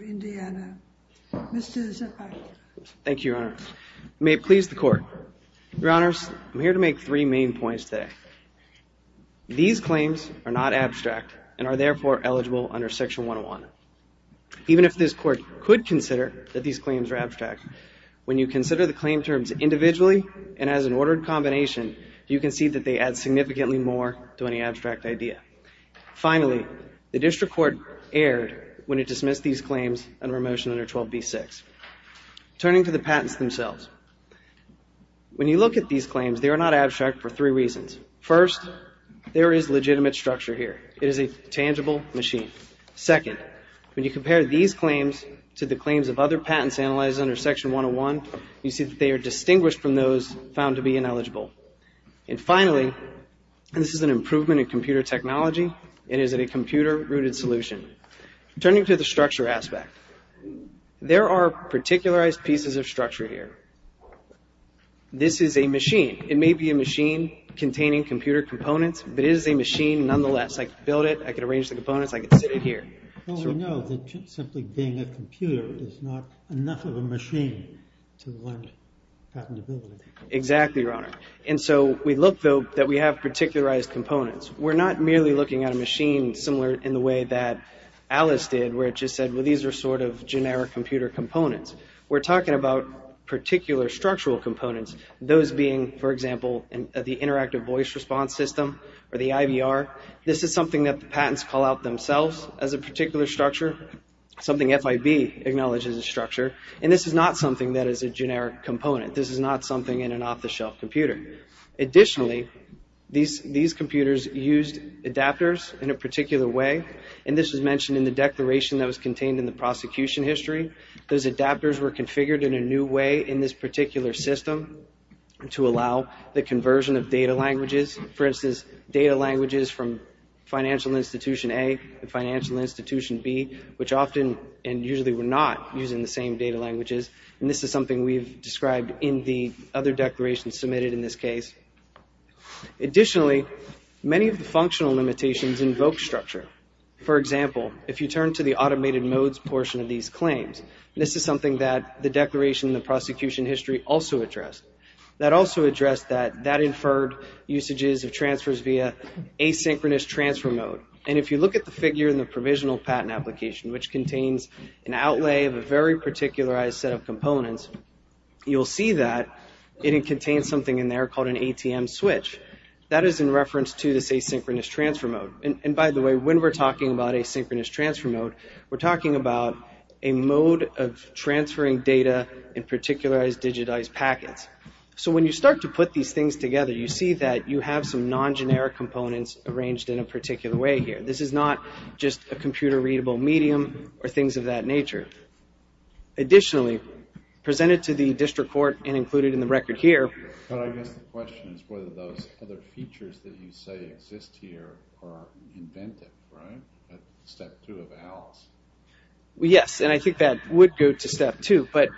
Indiana, Mr. Zapata. Thank you, Your Honor. May it please the Court that I present the District Court. Your Honors, I'm here to make three main points today. These claims are not abstract and are therefore eligible under Section 101. Even if this Court could consider that these claims are abstract, when you consider the claim terms individually and as an ordered combination, you can see that they add significantly more to any abstract idea. Finally, the District Court erred when it these claims, they are not abstract for three reasons. First, there is legitimate structure here. It is a tangible machine. Second, when you compare these claims to the claims of other patents analyzed under Section 101, you see that they are distinguished from those found to be ineligible. And finally, this is an improvement in computer technology. It is a computer-rooted solution. Turning to the structure aspect, there are particularized pieces of structure here. This is a machine. It may be a machine containing computer components, but it is a machine nonetheless. I could build it. I could arrange the components. I could sit it here. Well, we know that simply being a computer is not enough of a machine to learn patentability. Exactly, Your Honor. And so we look, though, that we have particularized components. We're not merely looking at a machine similar in the way that Alice did, where it just said, well, these are sort of generic computer components. We're talking about particular structural components, those being, for example, the interactive voice response system or the IVR. This is something that the patents call out themselves as a particular structure, something FIB acknowledges as structure. And this is not something that is a generic component. This is not something in an off-the-shelf computer. Additionally, these computers used adapters in a particular way. And this is mentioned in the declaration that was contained in the prosecution history. Those adapters were configured in a new way in this particular system to allow the conversion of data languages, for instance, data languages from Financial Institution A and Financial Institution B, which often and we've described in the other declarations submitted in this case. Additionally, many of the functional limitations invoke structure. For example, if you turn to the automated modes portion of these claims, this is something that the declaration in the prosecution history also addressed. That also addressed that that inferred usages of transfers via asynchronous transfer mode. And if you look at the figure in the you'll see that it contains something in there called an ATM switch. That is in reference to this asynchronous transfer mode. And by the way, when we're talking about asynchronous transfer mode, we're talking about a mode of transferring data in particular as digitized packets. So when you start to put these things together, you see that you have some non-generic components arranged in a particular way here. This is not just a computer readable medium or things of that nature. Additionally, presented to the district court and included in the record here. But I guess the question is whether those other features that you say exist here are inventive, right? Step two of Alice. Well, yes. And I think that would go to step two. But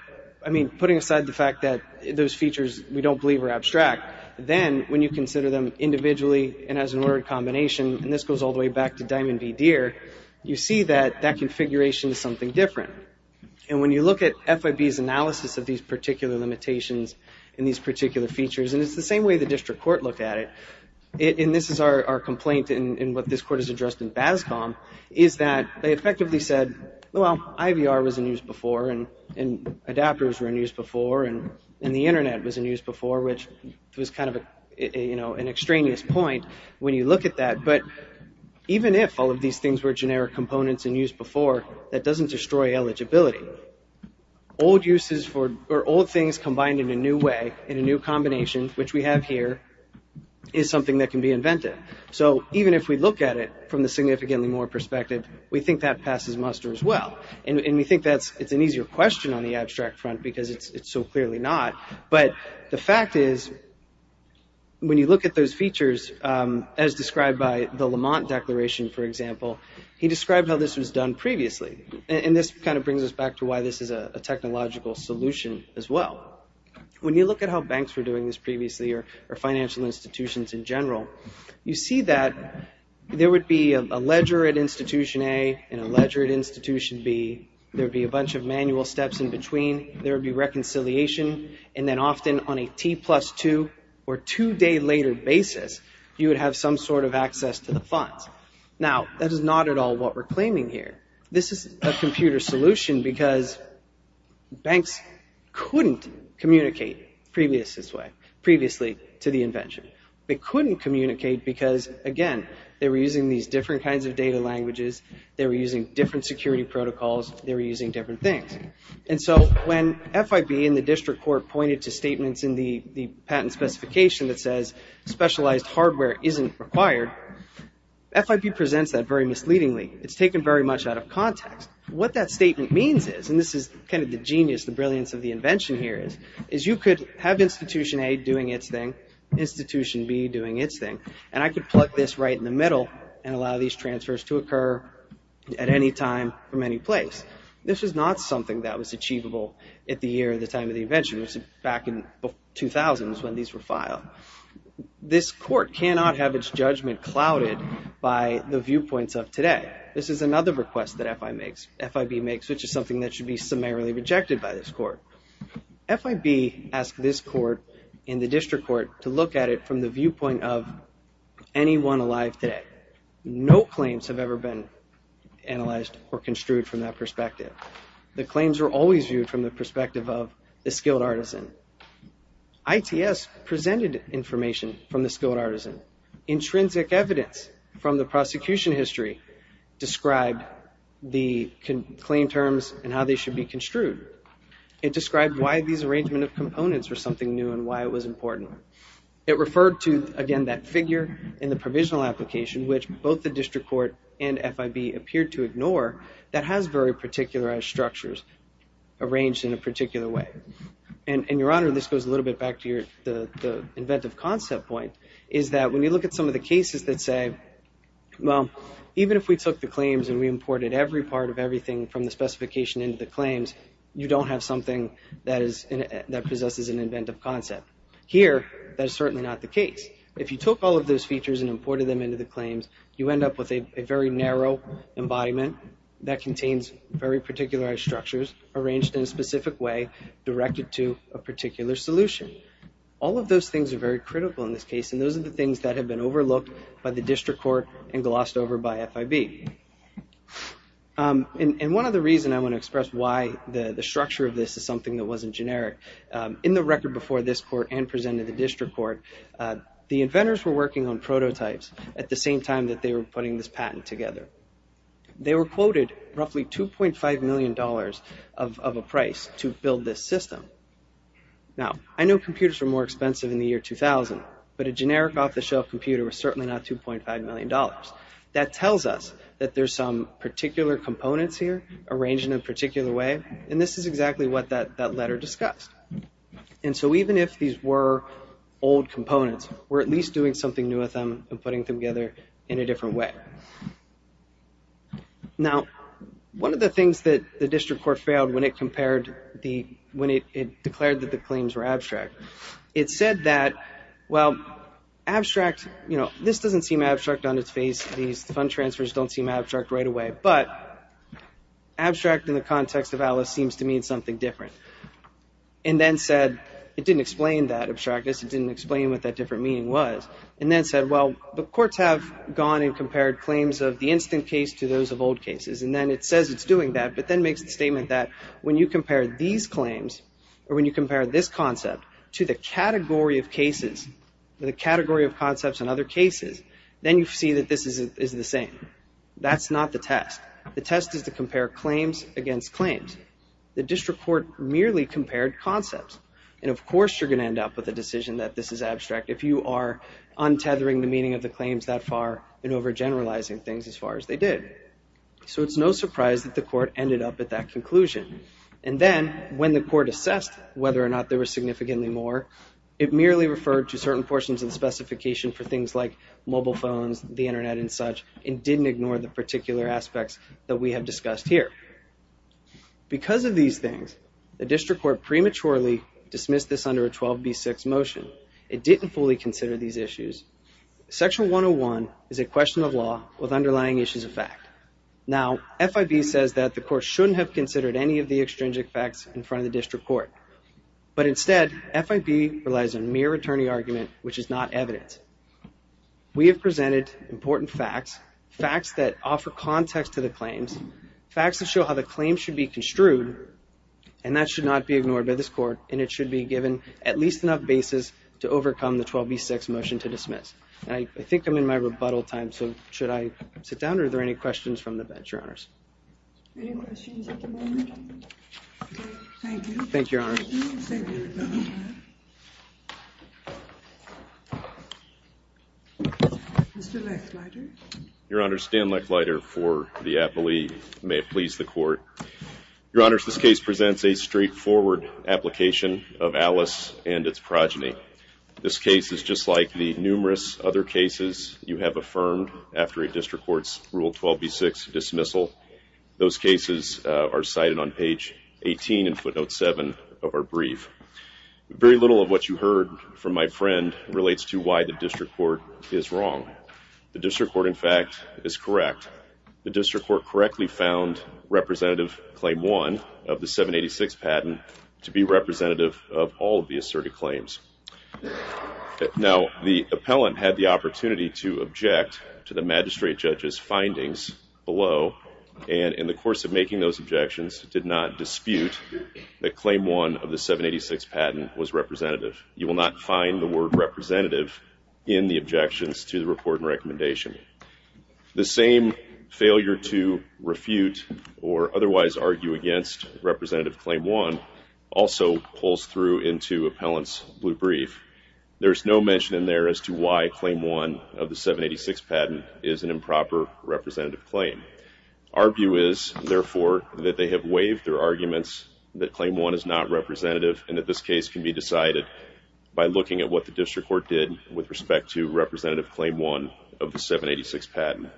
I mean, putting aside the fact that those features we don't believe are abstract, then when you consider them individually and as an ordered combination, and this goes all the way back to Diamond v. Deere, you see that that configuration is something different. And when you look at FIB's analysis of these particular limitations and these particular features, and it's the same way the district court looked at it, and this is our complaint in what this court has addressed in BASCOM, is that they effectively said, well, IVR was in use before, and adapters were in use before, and the Internet was in use before, which was kind of an extraneous point when you look at that. But even if all of these things were generic components in use before, that doesn't destroy eligibility. Old things combined in a new way, in a new combination, which we have here, is something that can be inventive. So even if we look at it from the significantly more perspective, we think that it's an easier question on the abstract front because it's so clearly not. But the fact is, when you look at those features, as described by the Lamont Declaration, for example, he described how this was done previously. And this kind of brings us back to why this is a technological solution as well. When you look at how banks were doing this previously, or financial institutions in general, you see that there would be a ledger at between, there would be reconciliation, and then often on a T plus two or two day later basis, you would have some sort of access to the funds. Now, that is not at all what we're claiming here. This is a computer solution because banks couldn't communicate previously to the invention. They couldn't communicate. And so when FIB and the district court pointed to statements in the patent specification that says specialized hardware isn't required, FIB presents that very misleadingly. It's taken very much out of context. What that statement means is, and this is kind of the genius, the brilliance of the invention here is, is you could have Institution A doing its thing, Institution B doing its thing, and I could plug this right in the middle and allow these transfers to occur at any time from any place. This is not something that was achievable at the year, the time of the invention, which is back in 2000s when these were filed. This court cannot have its judgment clouded by the viewpoints of today. This is another request that FIB makes, which is something that should be summarily rejected by this court. FIB asked this court in the district court to look at it from the viewpoint of anyone alive today. No claims have ever been analyzed or construed from that perspective. The claims are always viewed from the perspective of the skilled artisan. ITS presented information from the skilled artisan. Intrinsic evidence from the prosecution history described the claim terms and how they should be construed. It described why these arrangement of components were something new and why it was important. It referred to, again, that figure in the provisional application, which both the district court and FIB appeared to ignore, that has very particularized structures arranged in a particular way. And, Your Honor, this goes a little bit back to the inventive concept point, is that when you look at some of the cases that say, well, even if we took the claims and we imported every part of everything from the specification into the claims, you don't have something that possesses an inventive concept. Here, that is certainly not the case. If you took all of those features and imported them into the claims, you end up with a very narrow embodiment that contains very particularized structures arranged in a specific way directed to a particular solution. All of those things are very critical in this case, and those are the things that have been overlooked by the district court and glossed over by FIB. And one other reason I want to express why the structure of this is something that wasn't generic, in the record before this court and presented to the district court, the inventors were working on prototypes at the same time that they were putting this patent together. They were quoted roughly $2.5 million of a price to build this system. Now, I know computers were more expensive in the year 2000, but a generic off-the-shelf computer was certainly not $2.5 million. That tells us that there's some particular components here arranged in a particular way, and this is exactly what that letter discussed. And so even if these were old components, we're at least doing something new with them and putting them together in a different way. Now, one of the things that the district court failed when it declared that the claims were abstract, it said that, well, abstract, you know, this doesn't seem abstract on its face. These fund transfers don't seem abstract right away, but abstract in the context of Alice seems to mean something different. And then said, it didn't explain that abstractness. It didn't explain what that different meaning was. And then said, well, the courts have gone and compared claims of the instant case to those of old cases, and then it says it's doing that, but then makes the statement that when you compare a category of cases with a category of concepts in other cases, then you see that this is the same. That's not the test. The test is to compare claims against claims. The district court merely compared concepts, and of course you're going to end up with a decision that this is abstract if you are untethering the meaning of the claims that far and overgeneralizing things as far as they did. So it's no surprise that the court ended up at that conclusion. And then, when the district court looked at it, it merely referred to certain portions of the specification for things like mobile phones, the internet, and such, and didn't ignore the particular aspects that we have discussed here. Because of these things, the district court prematurely dismissed this under a 12b6 motion. It didn't fully consider these issues. Section 101 is a question of law with underlying issues of fact. Now, FIB says that the court shouldn't have considered any of the claims. It relies on mere attorney argument, which is not evidence. We have presented important facts, facts that offer context to the claims, facts that show how the claims should be construed, and that should not be ignored by this court, and it should be given at least enough basis to overcome the 12b6 motion to dismiss. And I think I'm in my rebuttal time, so should I sit down, or are there any questions from the bench, Your Honors? Any questions at the moment? Okay, thank you. Thank you, Your Honors. Mr. Lechleiter. Your Honors, Stan Lechleiter for the appellee. May it please the court. Your Honors, this case presents a straightforward application of Alice and its victims. Those cases are cited on page 18 in footnote 7 of our brief. Very little of what you heard from my friend relates to why the district court is wrong. The district court, in fact, is correct. The district court correctly found Representative Claim 1 of the 786 patent to be representative of all of the asserted claims. Now, the district court, in the course of making those objections, did not dispute that Claim 1 of the 786 patent was representative. You will not find the word representative in the objections to the report and recommendation. The same failure to refute or otherwise argue against Representative Claim 1 also pulls through into Our view is, therefore, that they have waived their arguments that Claim 1 is not representative and that this case can be decided by looking at what the district court did with respect to Representative Claim 1 of the 786 patent.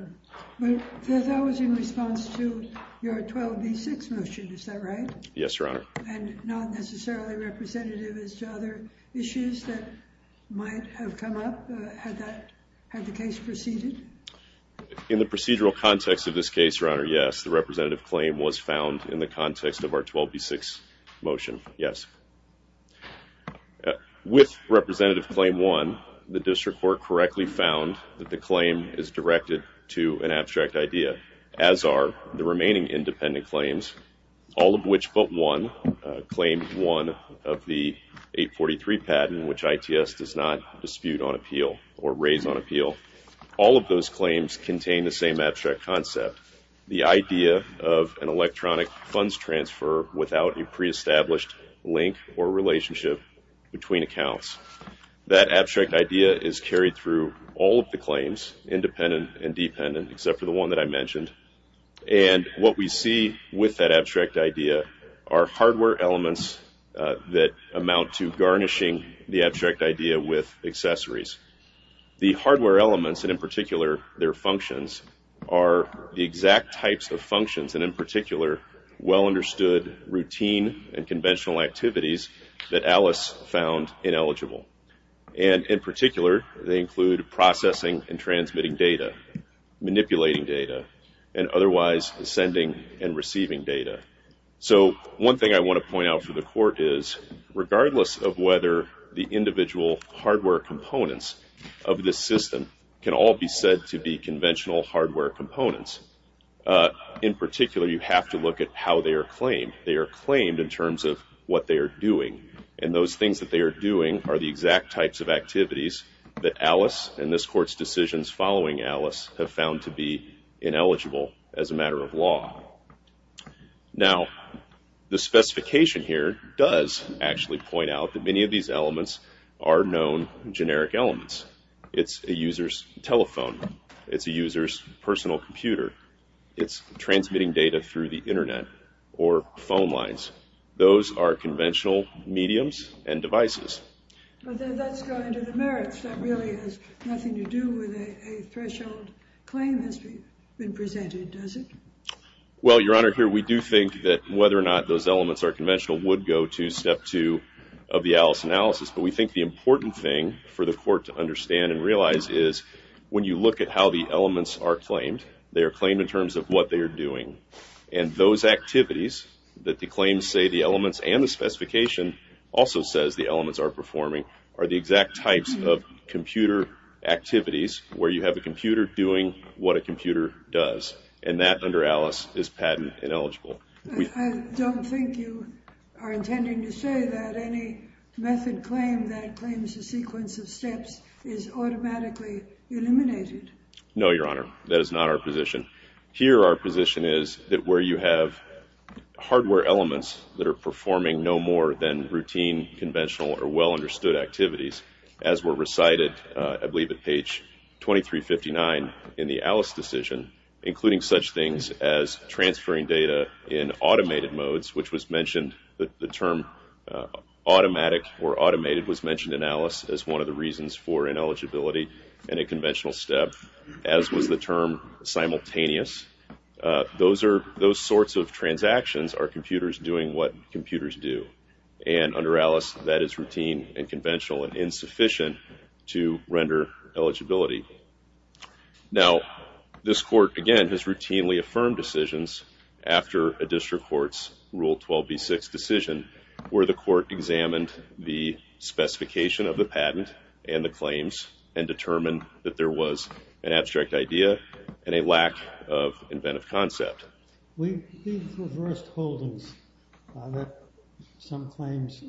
But that was in response to your 12B6 motion, is that right? Yes, Your Honor. And not necessarily representative as to other issues that might have come up had the case proceeded? In the procedural context of this case, Your Honor, yes, the representative claim was found in the context of our 12B6 motion, yes. With Representative Claim 1, the district court correctly found that the claim is directed to an abstract idea, as are the remaining independent claims, all of which but one, Claim 1 of the 843 patent, which ITS does not dispute on appeal or raise on appeal. All of those claims contain the same abstract concept, the idea of an electronic funds transfer without a pre-established link or relationship between accounts. That abstract idea is carried through all of the claims, independent and elements that amount to garnishing the abstract idea with accessories. The hardware elements, and in particular their functions, are the exact types of functions and in particular well-understood routine and conventional activities that Alice found ineligible. And in particular, they include processing and transmitting data, manipulating data, and otherwise sending and receiving data. So one thing I want to point out for the court is, regardless of whether the individual hardware components of this system can all be said to be conventional hardware components, in particular you have to look at how they are claimed. They are claimed in terms of what they are doing. And those things that they are doing are the exact types of activities that Alice and this court's decisions following Alice have found to be ineligible as a matter of law. Now, the specification here does actually point out that many of these elements are known generic elements. It's a user's telephone. It's a user's personal computer. It's transmitting data through the internet or phone lines. Those are conventional mediums and devices. But that's going to the merits. That really has nothing to do with a threshold claim that's been presented, does it? Well, Your Honor, here we do think that whether or not those elements are conventional would go to step two of the Alice analysis. But we think the important thing for the court to And those activities that the claims say the elements and the specification also says the elements are performing are the exact types of computer activities where you have a computer doing what a computer does. And that under Alice is patent ineligible. I don't think you are intending to say that any method claim that claims a sequence of steps is automatically eliminated. No, Your Honor, that is not our position here. Our position is that where you have hardware elements that are performing no more than routine, conventional or well understood activities, as were recited, I believe, at page twenty three fifty nine in the Alice decision, including such things as transferring data in automated modes, which was mentioned. The term automatic or automated was mentioned in Alice as one of the reasons for ineligibility and a conventional step, as was the term simultaneous. Those are those sorts of transactions are computers doing what computers do. And under Alice, that is routine and conventional and insufficient to render eligibility. Now, this court, again, has routinely affirmed decisions after a district court's rule twelve B six decision where the court examined the specification of the patent and the claims and determined that there was an abstract idea and a lack of inventive concept. We reversed holdings that some claims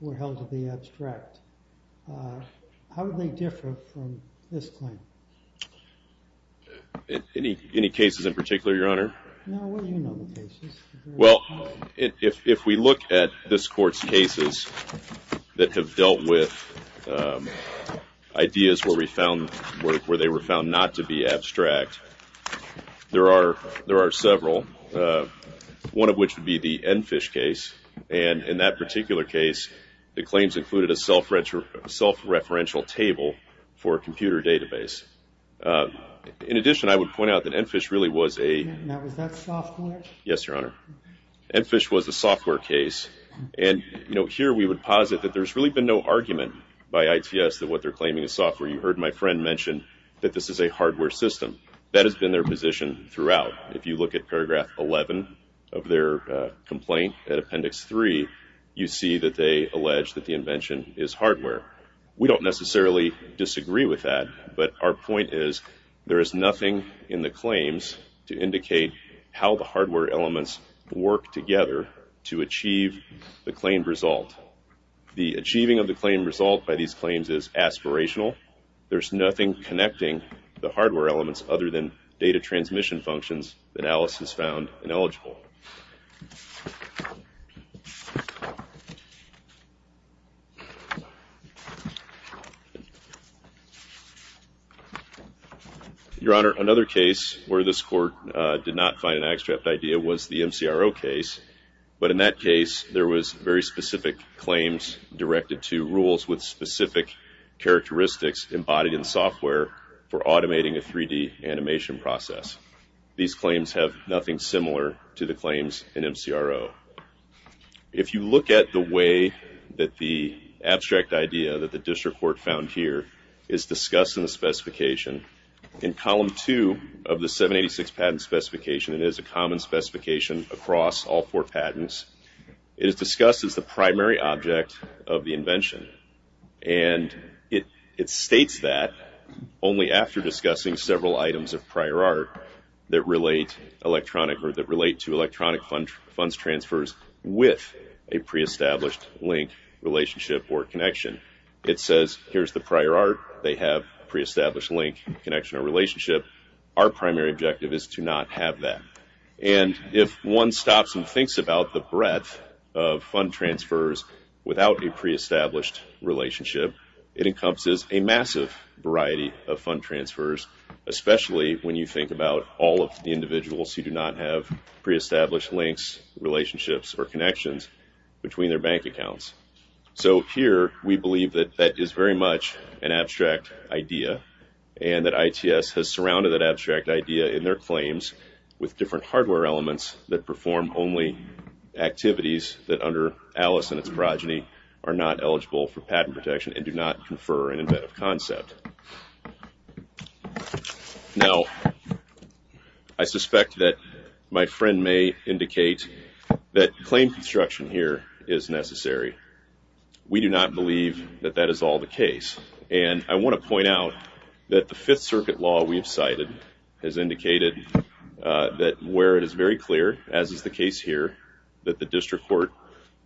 were held to be abstract. How do they differ from this claim? Any any cases in particular, Your Honor? Well, if we look at this court's cases that have dealt with ideas where we found where they were found not to be abstract. There are there are several, one of which would be the Enfish case. And in that particular case, the claims included a self self-referential table for a computer database. In addition, I would point out that Enfish really was a. Yes, Your Honor. Enfish was a software case. And here we would posit that there's really been no argument by ITS that what they're claiming is software. You heard my friend mention that this is a hardware system that has been their position throughout. If you look at paragraph eleven of their complaint at appendix three, you see that they allege that the invention is hardware. We don't necessarily disagree with that, but our point is there is nothing in the claims to indicate how the hardware elements work together to achieve the claimed result. The achieving of the claim result by these claims is aspirational. There's nothing connecting the hardware elements other than data transmission functions analysis found ineligible. Your Honor, another case where this court did not find an abstract idea was the MCRO case. But in that case, there was very specific claims directed to rules with specific characteristics embodied in software for automating a 3D animation process. These claims have nothing similar to the claims in MCRO. If you look at the way that the abstract idea that the district court found here is discussed in the specification, in column two of the 786 patent specification, it is a common specification across all four patents. It is discussed as the primary object of the invention. And it states that only after discussing several items of prior art that relate to electronic funds transfers with a pre-established link relationship or connection. It says here's the prior art. They have pre-established link connection or relationship. Our primary objective is to not have that. And if one stops and thinks about the breadth of fund transfers without a pre-established relationship, it encompasses a massive variety of fund transfers, especially when you think about all of the individuals who do not have pre-established links, relationships, or connections between their bank accounts. So here we believe that that is very much an abstract idea and that ITS has surrounded that abstract idea in their claims with different hardware elements that perform only activities that under Alice and its progeny are not eligible for patent protection and do not confer an inventive concept. Now, I suspect that my friend may indicate that claim construction here is necessary. We do not believe that that is all the case. And I want to point out that the Fifth Circuit law we've cited has indicated that where it is very clear, as is the case here, that the district court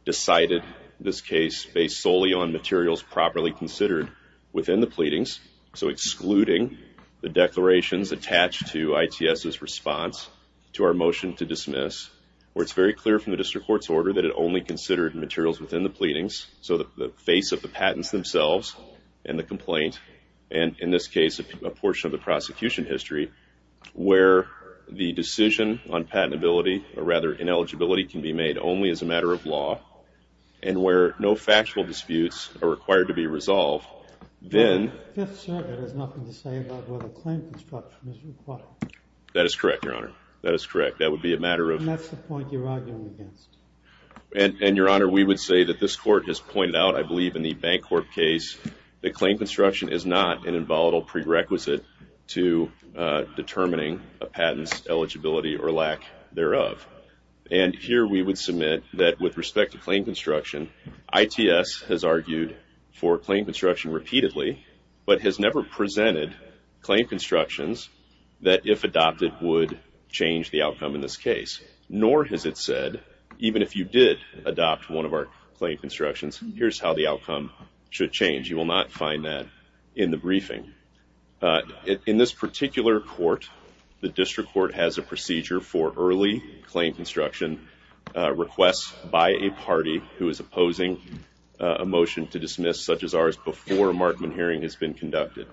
decided this case based solely on materials properly considered within the pleadings, so excluding the declarations attached to ITS's response to our motion to dismiss, where it's very clear from the district court's order that it only considered materials within the pleadings, so the face of the patents themselves and the complaint, and in this case, a portion of the prosecution history, where the decision on patentability, or rather ineligibility, can be made only as a matter of law and where no factual disputes are required to be resolved, then... The Fifth Circuit has nothing to say about whether claim construction is required. That is correct, Your Honor. That is correct. That would be a matter of... And that's the point you're arguing against. And, Your Honor, we would say that this court has pointed out, I believe, in the Bancorp case that claim construction is not an involatile prerequisite to determining a patent's eligibility or lack thereof. And here we would submit that, with respect to claim construction, ITS has argued for claim construction repeatedly, but has never presented claim constructions that, if adopted, would change the outcome in this case. Nor has it said, even if you did adopt one of our claim constructions, here's how the outcome should change. You will not find that in the briefing. In this particular court, the District Court has a procedure for early claim construction requests by a party who is opposing a motion to dismiss, such as ours, before a Markman hearing has been conducted.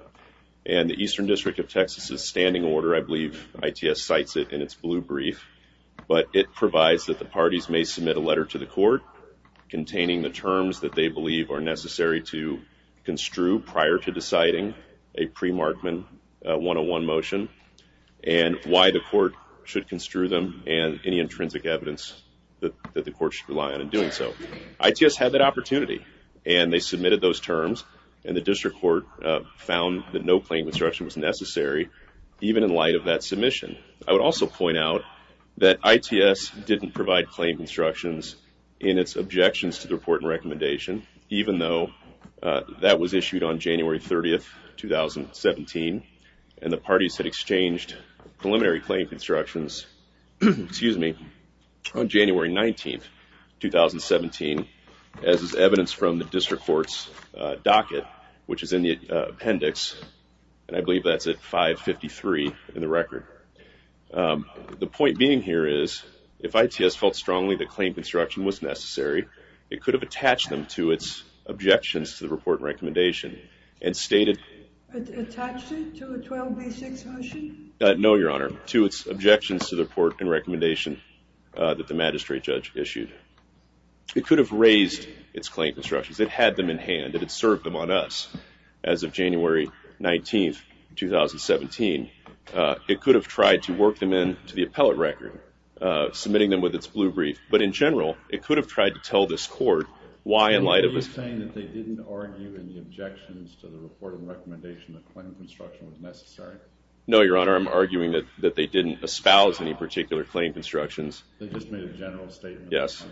And the Eastern District of Texas's standing order, I believe, ITS cites it in its blue brief, but it provides that the parties may submit a letter to the court containing the terms that they believe are necessary to construe prior to deciding a pre-Markman 101 motion and why the court should construe them and any intrinsic evidence that the court should rely on in doing so. ITS had that opportunity, and they submitted those terms, and the District Court found that no claim construction was necessary, even in light of that submission. I would also point out that ITS didn't provide claim constructions in its objections to the report and recommendation, even though that was issued on January 30, 2017, and the parties had exchanged preliminary claim constructions on January 19, 2017, as is evidenced from the District Court's docket, which is in the appendix, and I believe that's at 553 in the record. The point being here is, if ITS felt strongly that claim construction was necessary, it could have attached them to its objections to the report and recommendation and stated... Attached it to a 12B6 motion? No, Your Honor, to its objections to the report and recommendation that the magistrate judge issued. It could have raised its claim constructions. It had them in hand. It had served them on us as of January 19, 2017. It could have tried to work them into the appellate record, submitting them with its blue brief, but in general, it could have tried to tell this court why, in light of... Are you saying that they didn't argue in the objections to the report and recommendation that claim construction was necessary? No, Your Honor, I'm arguing that they didn't espouse any particular claim constructions. They just made a general statement. Yes.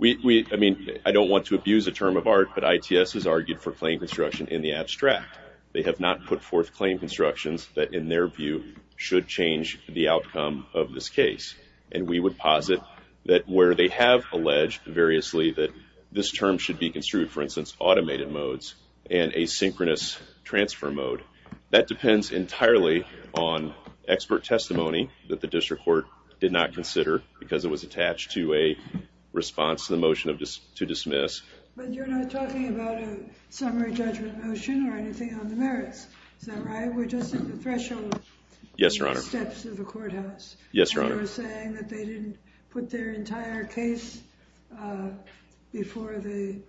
I mean, I don't want to abuse a term of art, but ITS has argued for claim construction in the abstract. They have not put forth claim constructions that, in their view, should change the outcome of this case, and we would posit that where they have alleged variously that this term should be construed, for instance, automated modes and a synchronous transfer mode, that depends entirely on expert testimony that the district court did not consider because it was attached to a response to the motion to dismiss. But you're not talking about a summary judgment motion or anything on the merits, is that right? We're just at the threshold steps of the courthouse. Yes, Your Honor. And you're saying that they didn't put their entire case before the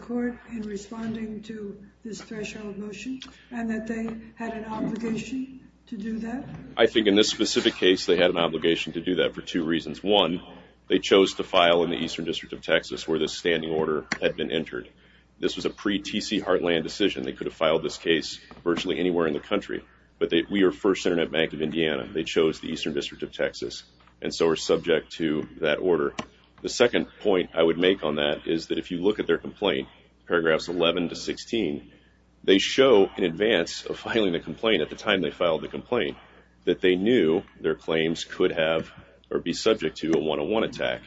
court in responding to this threshold motion and that they had an obligation to do that? I think in this specific case they had an obligation to do that for two reasons. One, they chose to file in the Eastern District of Texas where this standing order had been entered. This was a pre-TC Heartland decision. They could have filed this case virtually anywhere in the country, but we are First Internet Bank of Indiana. They chose the Eastern District of Texas, and so we're subject to that order. The second point I would make on that is that if you look at their complaint, paragraphs 11 to 16, they show in advance of filing the complaint at the time they filed the complaint that they knew their claims could have or be subject to a 101 attack.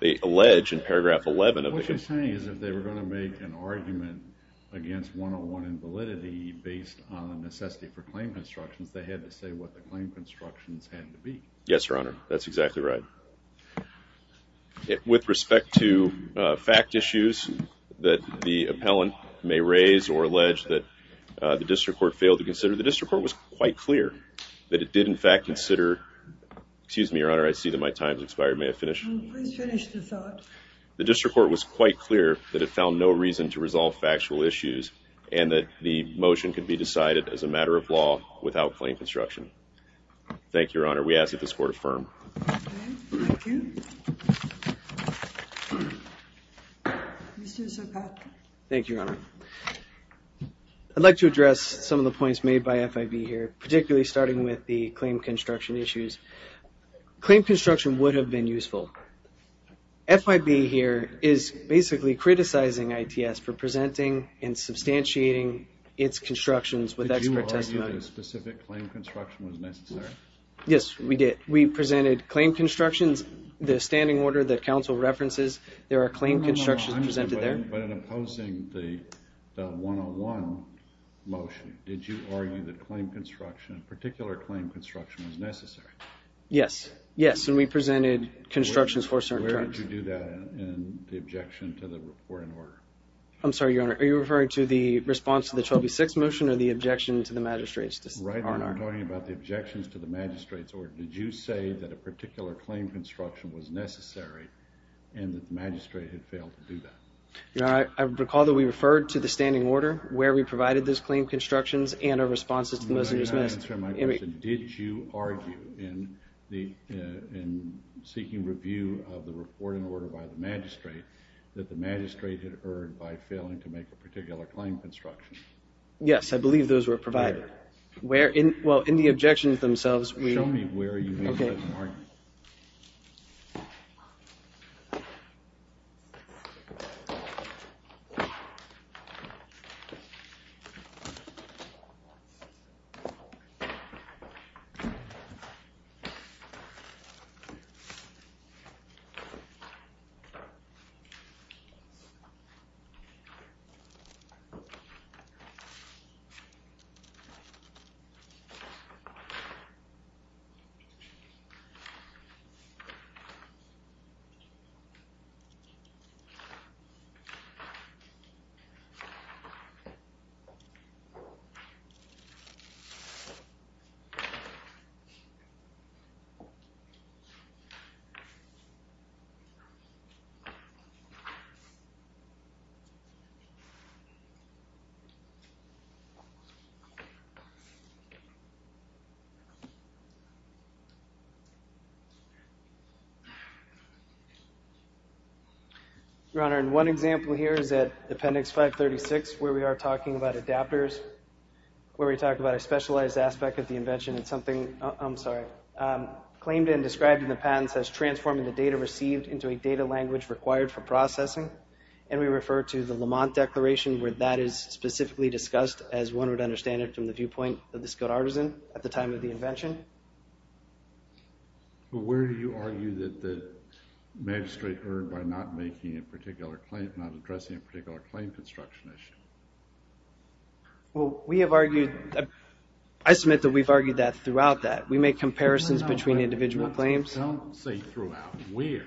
They allege in paragraph 11 of the complaint. What you're saying is if they were going to make an argument against 101 in validity based on necessity for claim constructions, they had to say what the claim constructions had to be. Yes, Your Honor. That's exactly right. With respect to fact issues that the appellant may raise or allege that the district court failed to consider, the district court was quite clear that it did in fact consider. Excuse me, Your Honor, I see that my time has expired. May I finish? Please finish the thought. The district court was quite clear that it found no reason to resolve factual issues and that the motion could be decided as a matter of law without claim construction. Thank you, Your Honor. We ask that this court affirm. Okay, thank you. Mr. Zapata. Thank you, Your Honor. I'd like to address some of the points made by FIB here, particularly starting with the claim construction issues. Claim construction would have been useful. FIB here is basically criticizing ITS for presenting and substantiating its constructions with expert testimony. Did you argue that a specific claim construction was necessary? Yes, we did. We presented claim constructions. The standing order that counsel references, there are claim constructions presented there. But in opposing the 101 motion, did you argue that claim construction, a particular claim construction was necessary? Yes, yes, and we presented constructions for certain terms. Where did you do that in the objection to the report and order? I'm sorry, Your Honor, are you referring to the response to the 12B6 motion or the objection to the magistrate's decision? No, Your Honor, I'm talking about the objections to the magistrate's order. Did you say that a particular claim construction was necessary and that the magistrate had failed to do that? Your Honor, I recall that we referred to the standing order where we provided those claim constructions and our responses to the motion. May I answer my question? Did you argue in seeking review of the report and order by the magistrate that the magistrate had erred by failing to make a particular claim construction? Yes, I believe those were provided. Where? Well, in the objections themselves. Show me where you made that argument. Your Honor, in one example here is at Appendix 536 where we are talking about adapters, where we talk about a specialized aspect of the invention. It's something, I'm sorry, claimed and described in the patent as transforming the data received into a data language required for processing, and we refer to the Lamont Declaration where that is specifically discussed as one would understand it from the viewpoint of the scote artisan at the time of the invention. Well, where do you argue that the magistrate erred by not making a particular claim, not addressing a particular claim construction issue? Well, we have argued, I submit that we've argued that throughout that. We make comparisons between individual claims. Don't say throughout. Where?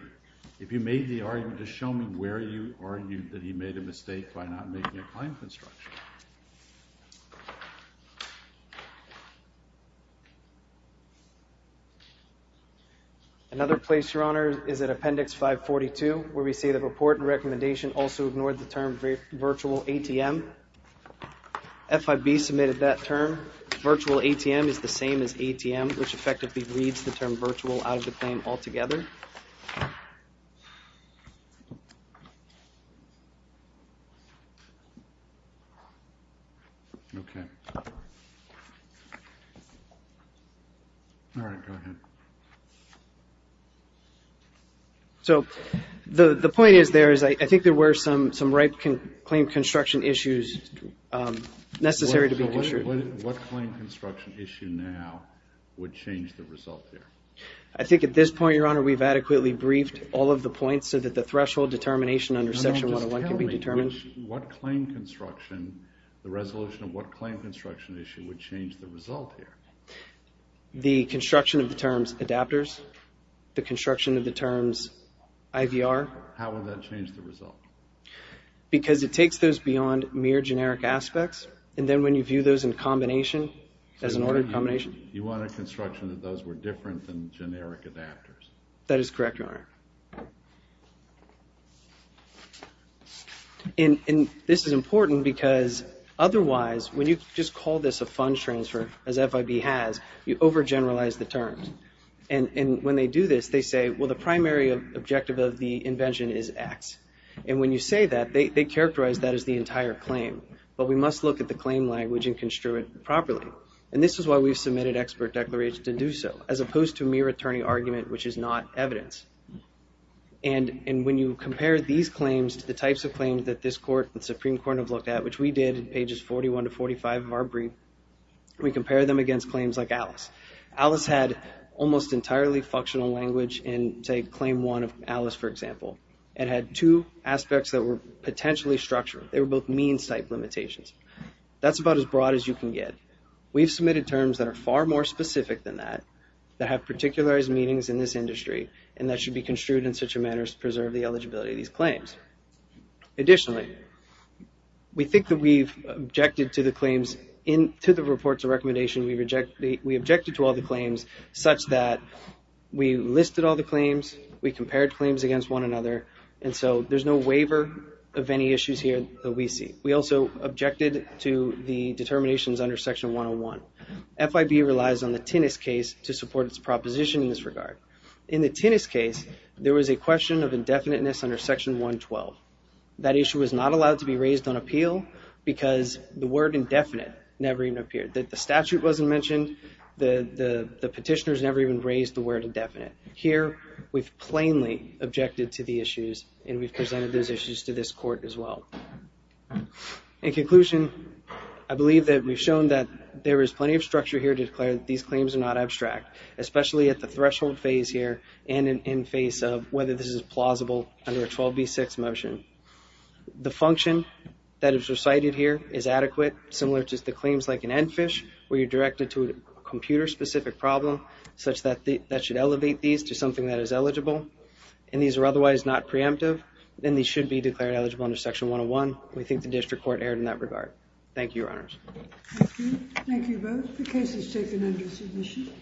If you made the argument, just show me where you argued that he made a mistake by not making a claim construction. Another place, Your Honor, is at Appendix 542 where we see the report and recommendation also ignored the term virtual ATM. FIB submitted that term. Virtual ATM is the same as ATM, which effectively reads the term virtual out of the claim altogether. Okay. Okay. All right. Go ahead. So the point is there is I think there were some right claim construction issues necessary to be considered. What claim construction issue now would change the result there? I think at this point, Your Honor, we've adequately briefed all of the points so that the threshold determination under Section 101 can be determined. What claim construction, the resolution of what claim construction issue would change the result here? The construction of the terms adapters, the construction of the terms IVR. How would that change the result? Because it takes those beyond mere generic aspects, and then when you view those in combination, as an ordered combination. You want a construction that those were different than generic adapters. That is correct, Your Honor. And this is important because otherwise, when you just call this a fund transfer as FIB has, you overgeneralize the terms. And when they do this, they say, well, the primary objective of the invention is X. And when you say that, they characterize that as the entire claim. But we must look at the claim language and construe it properly. And this is why we've submitted expert declarations to do so, as opposed to mere attorney argument, which is not evidence. And when you compare these claims to the types of claims that this Court and Supreme Court have looked at, which we did in pages 41 to 45 of our brief, we compare them against claims like Alice. Alice had almost entirely functional language in, say, Claim 1 of Alice, for example, and had two aspects that were potentially structured. They were both means-type limitations. That's about as broad as you can get. We've submitted terms that are far more specific than that, that have particularized meanings in this industry, and that should be construed in such a manner as to preserve the eligibility of these claims. Additionally, we think that we've objected to the claims in the reports of recommendation. We objected to all the claims such that we listed all the claims, we compared claims against one another, and so there's no waiver of any issues here that we see. We also objected to the determinations under Section 101. FIB relies on the Tinnis case to support its proposition in this regard. In the Tinnis case, there was a question of indefiniteness under Section 112. That issue was not allowed to be raised on appeal because the word indefinite never even appeared. The statute wasn't mentioned. The petitioners never even raised the word indefinite. Here, we've plainly objected to the issues, and we've presented those issues to this court as well. In conclusion, I believe that we've shown that there is plenty of structure here to declare that these claims are not abstract, especially at the threshold phase here and in face of whether this is plausible under a 12b-6 motion. The function that is recited here is adequate, similar to the claims like in NFISH, where you're directed to a computer-specific problem such that that should elevate these to something that is eligible, and these are otherwise not preemptive, then these should be declared eligible under Section 101. We think the district court erred in that regard. Thank you, Your Honors. Thank you. Thank you both. The case is taken under submission.